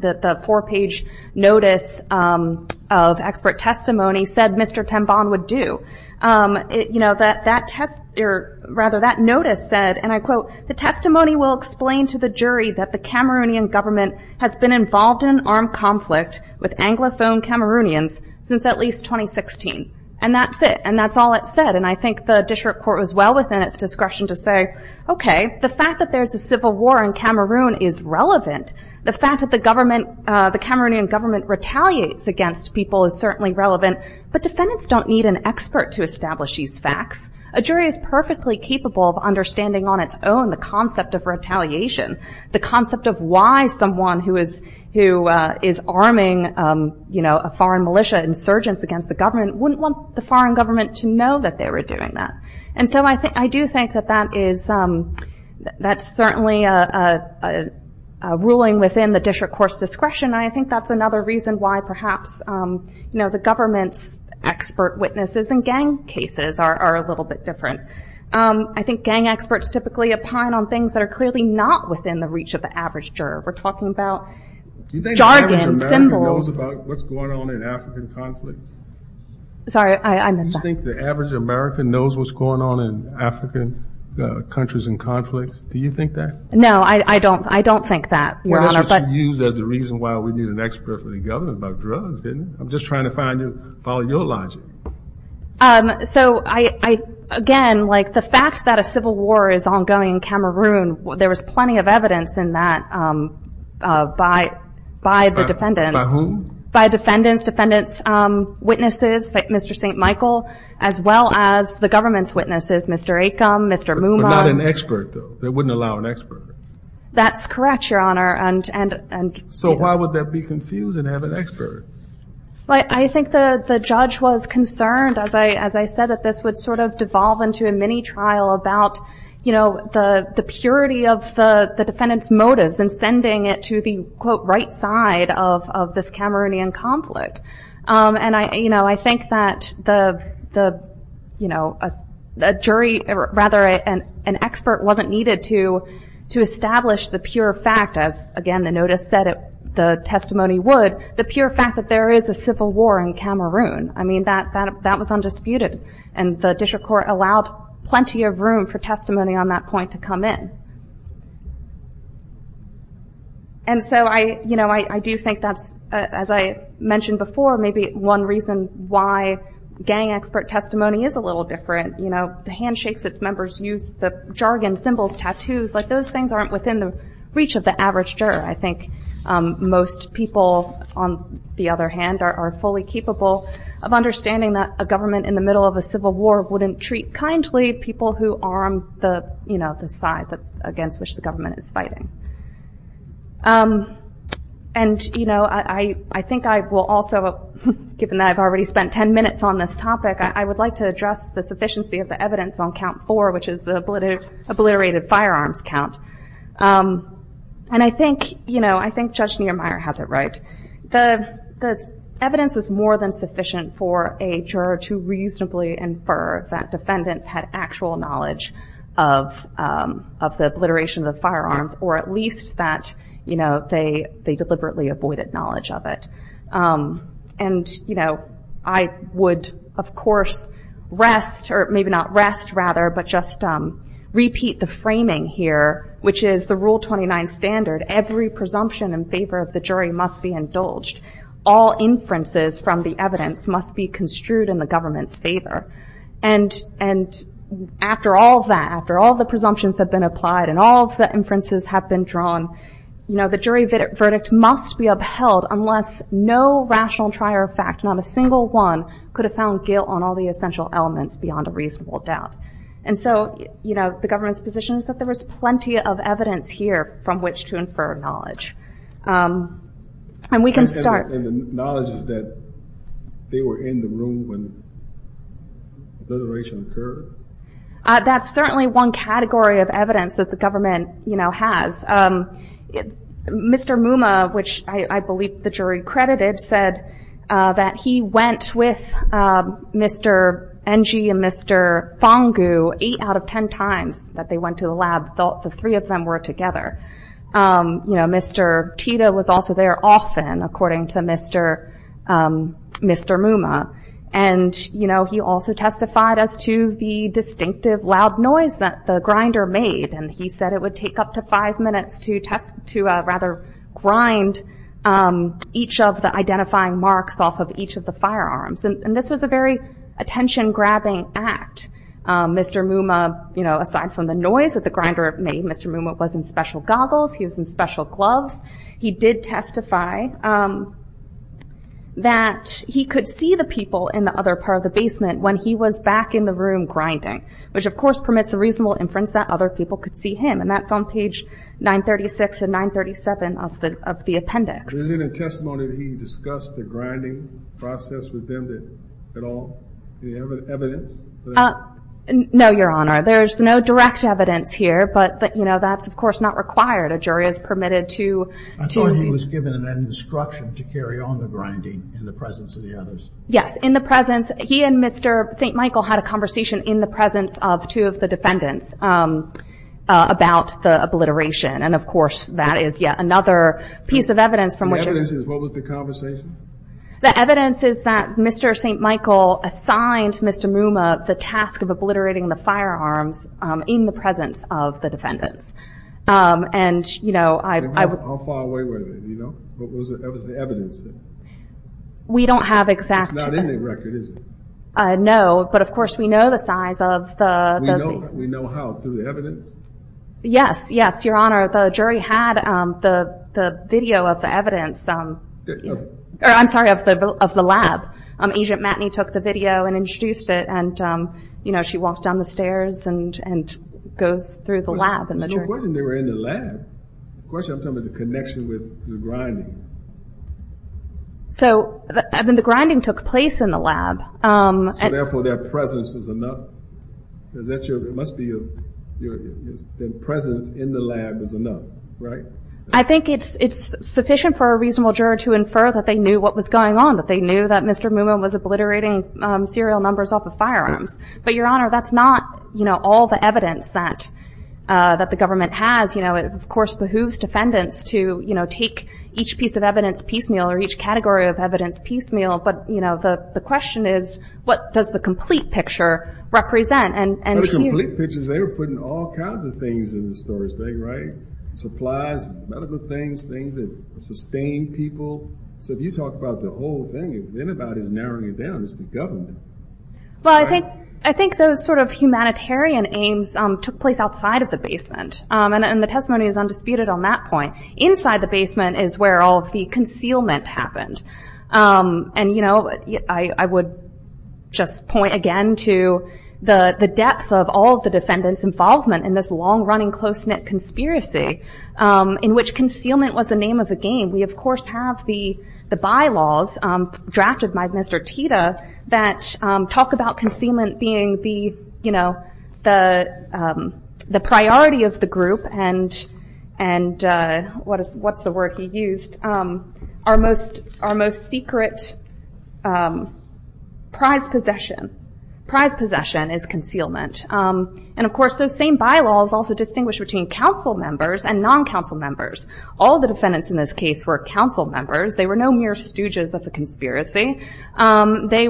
the four page notice of expert testimony said Mr. Tembon would do. You know, that notice said and I quote, the testimony will explain to the jury that the Cameroonian government has been involved in armed conflict with anglophone Cameroonians since at least 2016. And that's it. And that's all it said. And I think the district court was well within its discretion to say, okay, the fact that there's a civil war in Cameroon is relevant. The fact that the government the Cameroonian government retaliates against people is certainly relevant but defendants don't need an expert to establish these facts. A jury is perfectly capable of understanding on its own the concept of retaliation the concept of why someone who is arming a foreign militia insurgents against the government wouldn't want the foreign government to know that they were doing that. And so I do think that that is certainly a ruling within the district court's discretion and I think that's another reason why perhaps the government's expert witnesses in gang cases are a little bit different. I think gang experts typically opine on things that are clearly not within the reach of the average juror. We're talking about jargon, symbols. Do you think the average American knows about what's going on in African conflict? Sorry, I missed that. Do you think the average American knows what's going on in African countries in conflict? Do you think that? No, I don't think that, Your Honor. Well, that's what you use as the reason why we need an expert for the government about drugs, didn't it? I'm just trying to follow your logic. So, again, the fact that a civil war is ongoing in Cameroon, there was plenty of evidence in that by the defendants. By whom? By defendants' witnesses, Mr. St. Michael, as well as the government's witnesses, Mr. Acom, Mr. Mooma. But not an expert, though. They wouldn't allow an expert. That's correct, Your Honor. So why would that be confusing to have an expert? I think the judge was concerned, as I said, that this would sort of devolve into a mini-trial about the purity of the defendants' motives and sending it to the, quote, right side of this Cameroonian conflict. And I think that a jury or, rather, an expert wasn't needed to establish the pure fact, as, again, the notice said the testimony would, the pure fact that there is a civil war in Cameroon. I mean, that was undisputed. And the district court allowed plenty of room for testimony on that point to come in. And so I do think that's, as I mentioned before, maybe one reason why gang expert testimony is a little different. The handshakes its members use, the jargon, symbols, tattoos, those things aren't within the reach of the average juror. I think most people, on the other hand, are fully capable of understanding that a government in the middle of a civil war wouldn't treat kindly people who are on the side against which the government is fighting. And I think I will also given that I've already spent ten minutes on this topic, I would like to address the sufficiency of the evidence on Count 4 which is the obliterated firearms count. And I think, you know, I think Judge Niermeyer has it right. The evidence was more than sufficient for a juror to reasonably infer that defendants had actual knowledge of the obliteration of the firearms or at least that they deliberately avoided knowledge of it. And, you know, I would of course rest or maybe not rest, rather, but just repeat the framing here, which is the Rule 29 standard, every presumption in favor of the jury must be indulged. All inferences from the evidence must be construed in the government's favor. And after all that, after all the presumptions have been applied and all of the inferences have been drawn, you know, the jury verdict must be upheld unless no rational fact, not a single one, could have done guilt on all the essential elements beyond a reasonable doubt. And so, you know, the government's position is that there was plenty of evidence here from which to infer knowledge. And we can start... And the knowledge is that they were in the room when the obliteration occurred? That's certainly one category of evidence that the government, you know, has. Mr. Mumma, which I believe the jury credited, said that he went with Mr. Engi and Mr. Fongu eight out of ten times that they went to the lab, thought the three of them were together. You know, Mr. Chida was also there often, according to Mr. Mumma. And, you know, he also testified as to the distinctive loud noise that the grinder made. And he said it would take up to five minutes to rather grind each of the identifying marks off of each of the firearms. And this was a very attention-grabbing act. Mr. Mumma, you know, aside from the noise that the grinder made, Mr. Mumma was in special goggles, he was in special gloves. He did testify that he could see the people in the other part of the basement when he was back in the room grinding, which of course permits a reasonable inference that other people could see him. And that's on page 936 and 937 of the appendix. Was there any testimony that he discussed the grinding process with them at all? Any evidence? No, Your Honor. There's no direct evidence here, but, you know, that's of course not required. A jury is permitted to I thought he was given an instruction to carry on the grinding in the presence of the others. Yes, in the presence he and Mr. St. Michael had a conversation in the presence of two of the defendants about the obliteration, and of course that is yet another piece of evidence from which What was the conversation? The evidence is that Mr. St. Michael assigned Mr. Mumma the task of obliterating the firearms in the presence of the defendants. And, you know, I'm far away with it, you know? What was the evidence? We don't have exact... It's not in the record, is it? No, but of course we know the size of the... We know how? Through the evidence? Yes, yes Your Honor, the jury had the video of the evidence I'm sorry, of the lab. Agent Matney took the video and introduced it and you know, she walks down the stairs and goes through the lab Was there a question they were in the lab? Of course I'm talking about the connection with the grinding. So, I mean, the grinding took place in the lab So, therefore, their presence was enough? Is that your... It must be their presence in the lab was enough, right? I think it's sufficient for a reasonable juror to infer that they knew what was going on. That they knew that Mr. Mumma was obliterating serial numbers off of firearms. But, Your Honor, that's not all the evidence that the government has. It, of course, behooves defendants to take each piece of evidence piecemeal or each category of evidence piecemeal but, you know, the question is what does the complete picture represent? They were putting all kinds of things in the storage right? Supplies, medical things, things that sustain people. So, if you talk about the whole thing, if anybody's narrowing it down, it's the government. Well, I think those sort of humanitarian aims took place outside of the basement. And the testimony is undisputed on that point. Inside the basement is where all of the concealment happened. I would just point again to the depth of all the defendants' involvement in this long-running, close-knit conspiracy in which concealment was the name of the game. We, of course, have the bylaws drafted by Mr. Tita that talk about concealment being the priority of the group and what's the word he used, our most secret prize possession. Prize possession is concealment. And, of course, those same bylaws also distinguish between council members and non-council members. All the defendants in this case were council members. They were no mere stooges of a conspiracy. They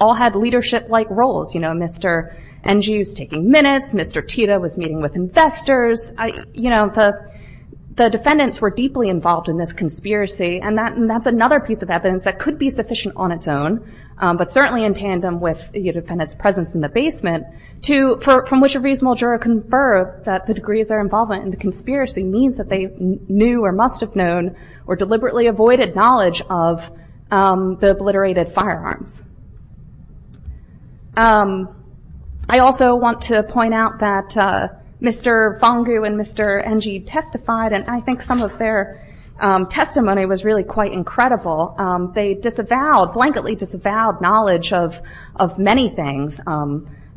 all had leadership-like roles. You know, Mr. NGU's taking minutes. Mr. Tita was meeting with investors. You know, the defendants were deeply involved in this conspiracy. And that's another piece of evidence that could be sufficient on its own but certainly in tandem with the defendant's presence in the basement from which a reasonable juror confirmed that the degree of their involvement in the conspiracy means that they knew or must have known or deliberately avoided knowledge of the obliterated firearms. I also want to point out that Mr. Fongu and Mr. NGU testified and I think some of their testimony was really quite incredible. They disavowed, blanketly disavowed knowledge of many things.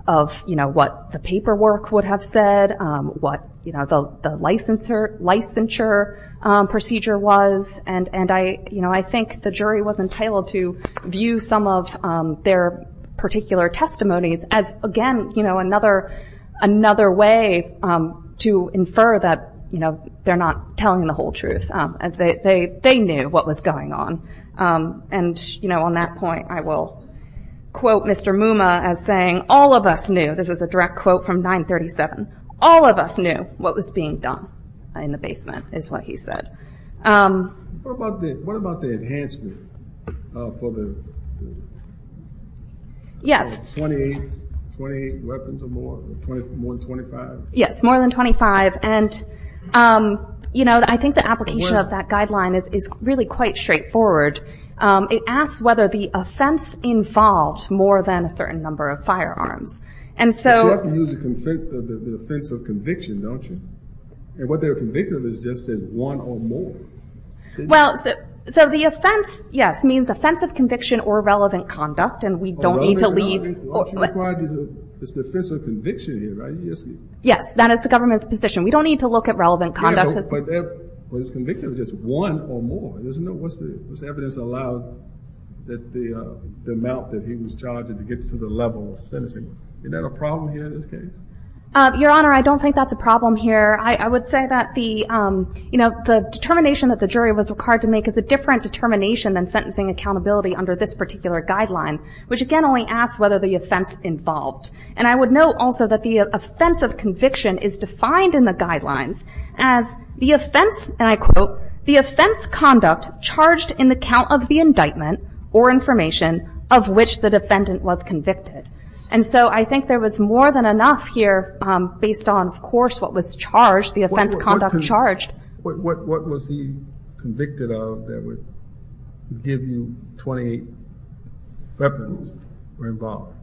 Of, you know, what the paperwork would have said, what the licensure procedure was. I think the jury was entitled to view some of their particular testimonies as again, you know, another way to infer that, you know, they're not telling the whole truth. They knew what was going on. And, you know, on that point I will quote Mr. Muma as saying, all of us knew, this is a direct quote from 937, all of us knew what was being done in the basement is what he said. What about the enhancement for the Yes. 28 weapons or more? More than 25? Yes, more than 25 and you know, I think the application of that guideline is really quite straightforward. It asks whether the offense involved more than a certain number of firearms. And so... But you have to use the offense of conviction, don't you? And what they were convicted of is just one or more. Well, so the offense, yes, means offense of conviction or relevant conduct and we don't need to leave It's the offense of conviction here, right? Yes, that is the government's position. We don't need to look at relevant conduct But it was convicted of just one or more. There's no evidence allowed that the amount that he was charged to get to the level of sentencing. Is that a problem here in this case? Your Honor, I don't think that's a problem here. I would say that the determination that the jury was required to make is a different determination than sentencing accountability under this particular guideline which again only asks whether the offense involved. And I would note also that the offense of conviction is defined in the guidelines as the offense, and I quote, the offense conduct charged in the count of the indictment or information of which the defendant was convicted. And so I think there was more than enough here based on, of course, what was charged the offense conduct charged What was he convicted of that would give you 28 weapons were involved?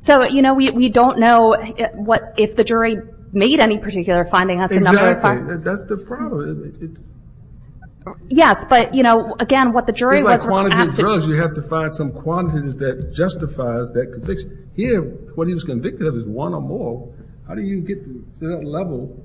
So, you know, we don't know if the jury made any particular findings Exactly, that's the problem Yes, but, you know, again, what the jury was asked You have to find some quantities that justifies that conviction. Here what he was convicted of is one or more How do you get to that level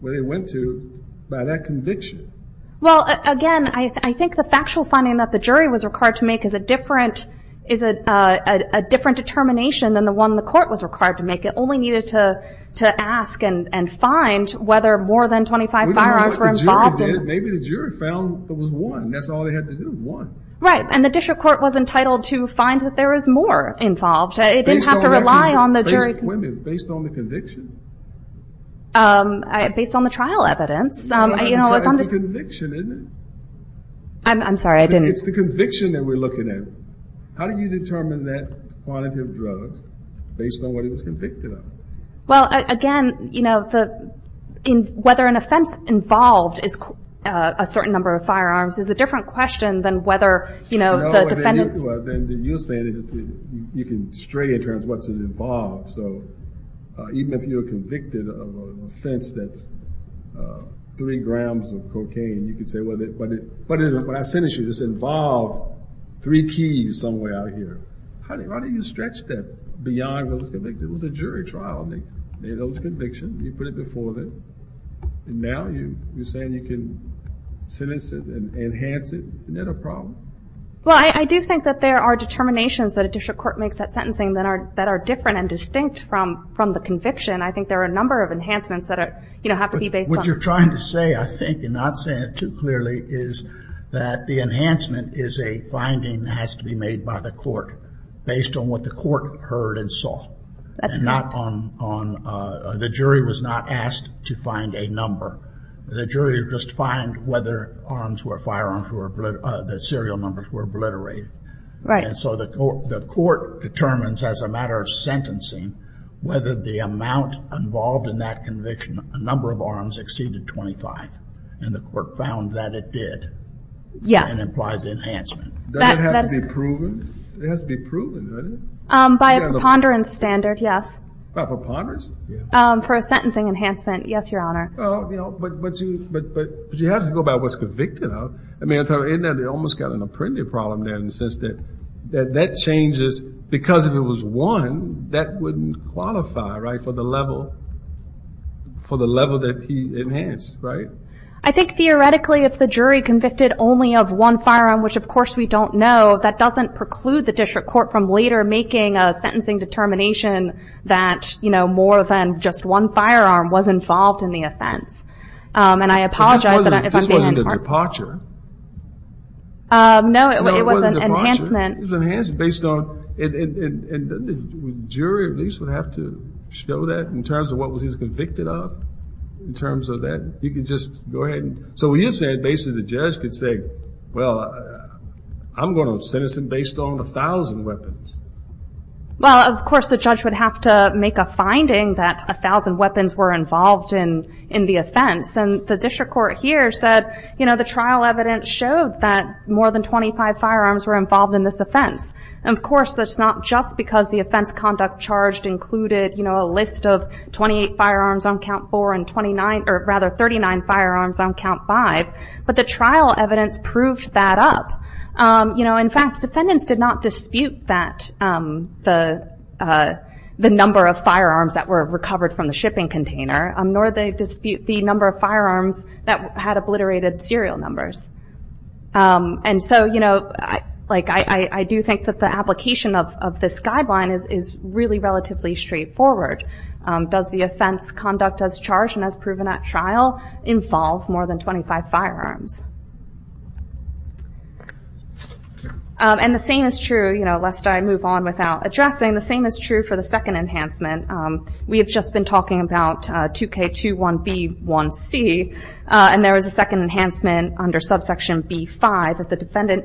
where he went to by that conviction? Well, again, I think the factual finding that the jury was required to make is a different is a different determination than the one the court was required to make. It only needed to ask and find whether more than 25 firearms were involved Maybe the jury found there was one That's all they had to do, one Right, and the district court was entitled to find that there was more involved It didn't have to rely on the jury How do you detect women based on the conviction? Based on the trial evidence It's the conviction, isn't it? I'm sorry, I didn't It's the conviction that we're looking at How do you determine that quantity of drugs based on what he was convicted of? Well, again, you know, whether an offense involved is a certain number of firearms is a different question than whether, you know, the defendants You're saying You can stray in terms of what's involved Even if you're convicted of an offense that's three grams of cocaine You can say, well, what I sentenced you involved three keys somewhere out here Why don't you stretch that beyond what was convicted It was a jury trial They made those convictions, you put it before them Now you're saying you can sentence it and enhance it Isn't that a problem? Well, I do think that there are determinations that a district court makes that are different and distinct from the conviction I think there are a number of enhancements What you're trying to say, I think and not saying it too clearly is that the enhancement is a finding that has to be made by the court based on what the court heard and saw That's right The jury was not asked to find a number The jury would just find whether firearms, the serial numbers were obliterated So the court determines as a matter of sentencing whether the amount involved in that conviction, a number of arms exceeded 25 and the court found that it did and implied the enhancement Does it have to be proven? It has to be proven, doesn't it? By a preponderance standard, yes For a sentencing enhancement Yes, your honor But you have to go by what's convicted of They almost got an apprentice problem in the sense that that changes because if it was one that wouldn't qualify for the level for the level that he enhanced I think theoretically if the jury convicted only of one firearm which of course we don't know that doesn't preclude the district court from later making a sentencing determination that more than just one firearm was involved in the offense and I apologize This wasn't a departure No, it was an enhancement Based on the jury at least would have to show that in terms of what he was convicted of in terms of that You can just go ahead So you're saying basically the judge could say well, I'm going to sentence him based on a thousand weapons Well, of course the judge would have to make a finding that a thousand weapons were involved in the offense and the district court here said the trial evidence showed that more than 25 firearms were involved in this offense Of course, that's not just because the offense conduct charged included a list of 28 firearms on count 4 and 39 firearms on count 5 but the trial evidence proved that up In fact, defendants did not dispute that the number of firearms that were recovered from the shipping container nor the number of firearms that had obliterated serial numbers and so I do think that the application of this guideline is really relatively straightforward Does the offense conduct as charged and as proven at trial involve more than 25 firearms And the same is true you know, lest I move on without addressing the same is true for the second enhancement We have just been talking about 2K21B1C and there was a second enhancement under subsection B5 that the defendant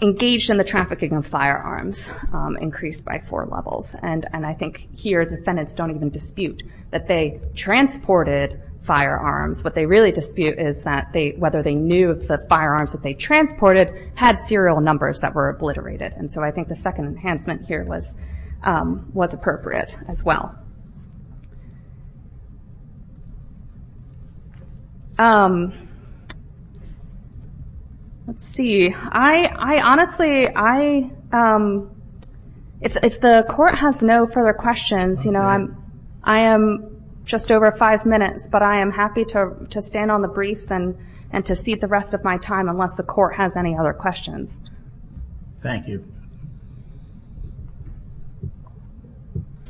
engaged in the trafficking of firearms increased by four levels and I think here defendants don't even dispute that they transported firearms What they really dispute is that whether they knew the firearms that they transported had serial numbers that were obliterated and so I think the second enhancement here was appropriate as well Let's see I honestly if the court has no further questions I am just over 5 minutes but I am happy to stand on the briefs and to cede the rest of my time unless the court has any other questions Thank you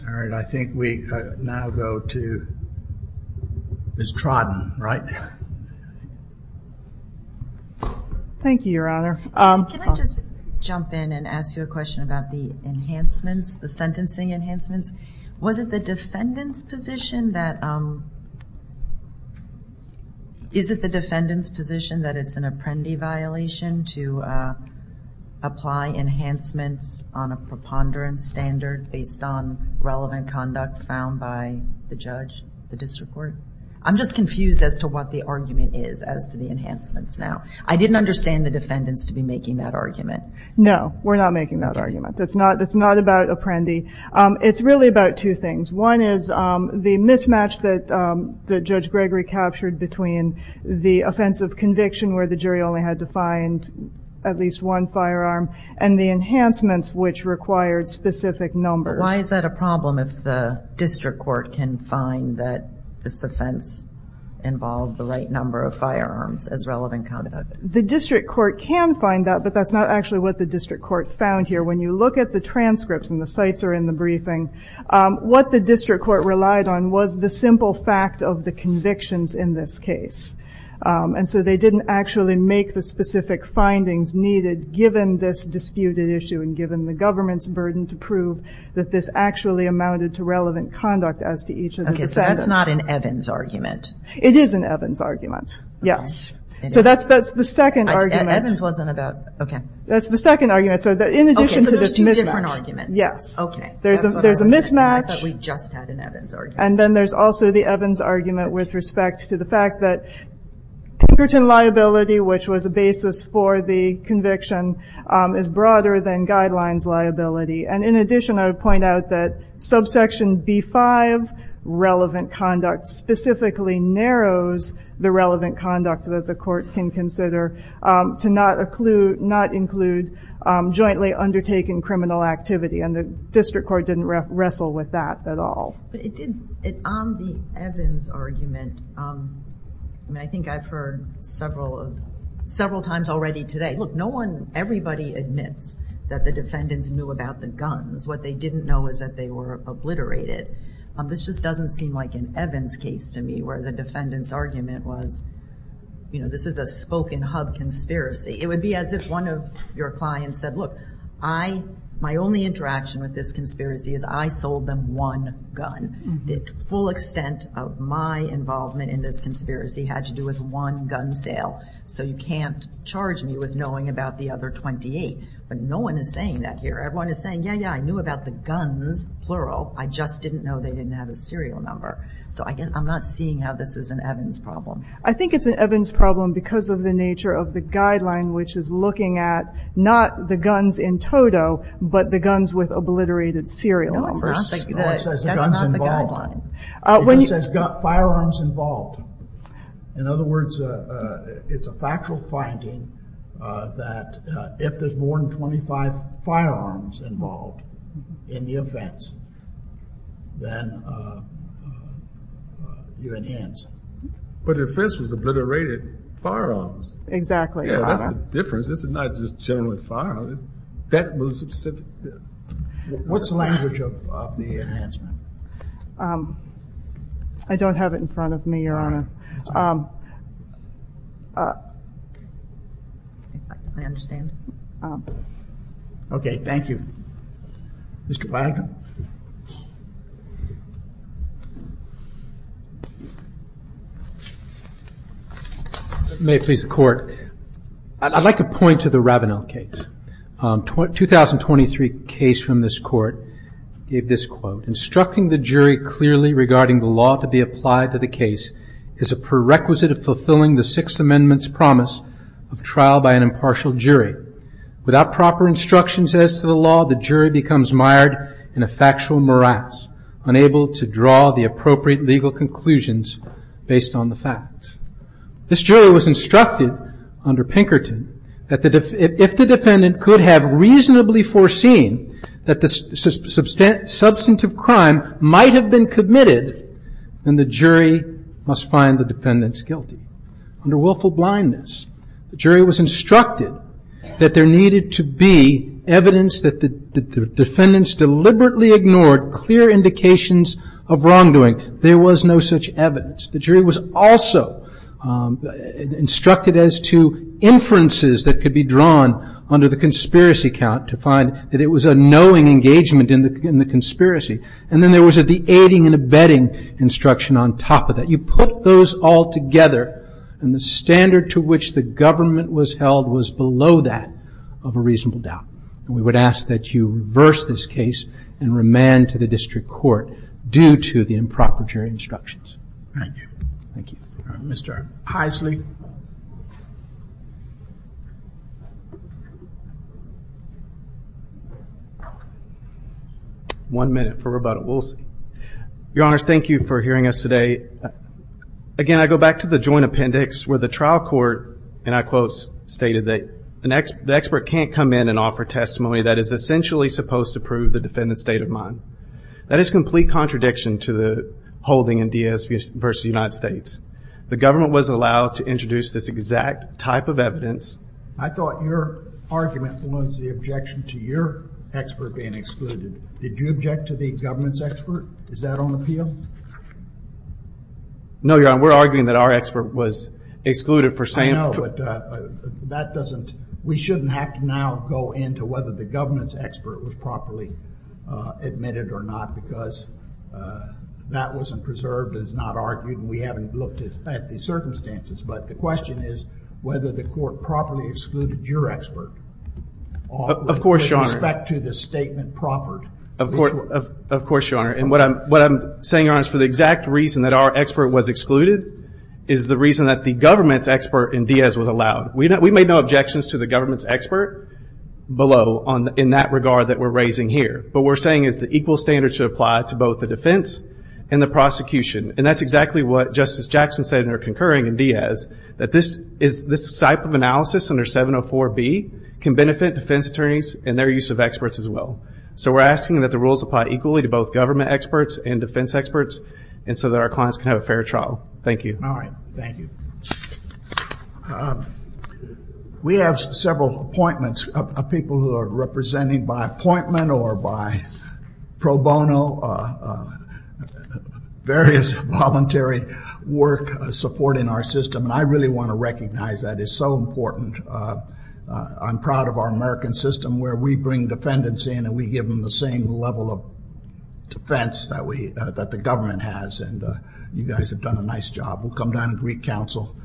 Alright, I think we now go to Ms. Trodden, right? Thank you, Your Honor Can I just jump in and ask you a question about the enhancements the sentencing enhancements Was it the defendant's position that is it the defendant's position that it's an apprendee violation to apply enhancements on a preponderance standard based on relevant conduct found by the judge the district court? I'm just confused as to what the argument is as to the enhancements now. I didn't understand the defendants to be making that argument No, we're not making that argument It's not about apprendee It's really about two things One is the mismatch that Judge Gregory captured between the offense of conviction where the jury only had to find at least one firearm and the enhancements which required specific numbers. Why is that a problem if the district court can find that this offense involved the right number of firearms as relevant conduct? The district court can find that but that's not actually what the district court found here when you look at the transcripts and the sites in the briefing, what the district court relied on was the simple fact of the convictions in this case and so they didn't actually make the specific findings needed given this disputed issue and given the government's burden to prove that this actually amounted to relevant conduct as to each of the defendants That's not an Evans argument It is an Evans argument So that's the second That's the second argument That's the second argument So there's two different arguments There's a mismatch and then there's also the Evans argument with respect to the fact that congruent liability which was a basis for the conviction is broader than guidelines liability and in addition I would point out that subsection B-5 relevant conduct specifically narrows the relevant conduct that the court can consider to not include jointly undertaken criminal activity and the district court didn't wrestle with that at all On the Evans argument I think I've heard several several times already today Look, no one, everybody admits that the defendants knew about the guns What they didn't know is that they were obliterated. This just doesn't seem like an Evans case to me where the defendant's argument was this is a spoken hub conspiracy It would be as if one of your clients said, look, I my only interaction with this conspiracy is I sold them one gun The full extent of my involvement in this conspiracy had to do with one gun sale so you can't charge me with knowing about the other 28 No one is saying that here. Everyone is saying, yeah, yeah I knew about the guns, plural I just didn't know they didn't have a serial number So I'm not seeing how this is an Evans problem. I think it's an Evans problem because of the nature of the guideline which is looking at not the guns in total but the guns with obliterated serial numbers No, that's not the guideline It just says firearms involved In other words, it's a factual finding that if there's more than 25 firearms involved in the offense then you enhance But if this was obliterated firearms Exactly, your honor. Yeah, that's the difference This is not just generally firearms That was specific What's the language of the enhancement? Um I don't have it in front of me, your honor Um Uh I understand Okay, thank you Mr. Wagner May it please the court I'd like to point to the Ravenel case Um 2023 case from this court gave this quote Instructing the jury clearly regarding the law to be applied to the case is a prerequisite of fulfilling the Sixth Amendment's promise of trial by an impartial jury Without proper instructions as to the law, the jury becomes mired in a factual morass unable to draw the appropriate legal conclusions based on the facts This jury was instructed under Pinkerton that if the defendant could have reasonably foreseen that the substantive crime might have been committed, then the jury must find the defendant's guilty Under willful blindness The jury was instructed that there needed to be evidence that the defendants deliberately ignored clear indications of wrongdoing There was no such evidence The jury was also instructed as to inferences that could be drawn under the conspiracy count to find that it was a knowing engagement in the conspiracy And then there was the aiding and abetting instruction on top of that You put those all together and the standard to which the government was held was below that of a reasonable doubt We would ask that you reverse this case and remand to the district court due to the improper jury instructions Thank you Mr. Heisley One minute for Roberta Woolsey Your honors, thank you for hearing us today Again, I go back to the joint appendix where the trial court, and I quote, stated that the expert can't come in and offer testimony that is essentially supposed to prove the defendant's state of mind That is complete contradiction to the holding in DS v. United States The government was allowed to introduce this exact type of evidence I thought your argument was the objection to your expert being excluded Did you object to the government's expert? Is that on appeal? No, your honor, we're arguing that our expert was excluded I know, but that doesn't, we shouldn't have to now go into whether the government's expert was properly admitted or not because that wasn't preserved and is not argued and we haven't looked at the circumstances but the question is whether the court properly excluded your expert Of course, your honor With respect to the statement proffered Of course, your honor What I'm saying, your honor, is for the exact reason that our expert was excluded is the reason that the government's expert in DS was allowed. We made no objections to the government's expert below in that regard that we're raising here, but what we're saying is that equal standards should apply to both the defense and the prosecution, and that's exactly what Justice Jackson said in her concurring in DS that this type of analysis under 704B can benefit defense attorneys and their use of experts as well. So we're asking that the rules apply equally to both government experts and defense experts and so that our clients can have a fair trial. Thank you Thank you We have several appointments of people who are represented by appointment or by pro bono various voluntary work support in our system and I really want to recognize that it's so important I'm proud of our American system where we bring defendants in and we give them the same level of defense that the government has and you guys have done a nice job. We'll come down and greet counsel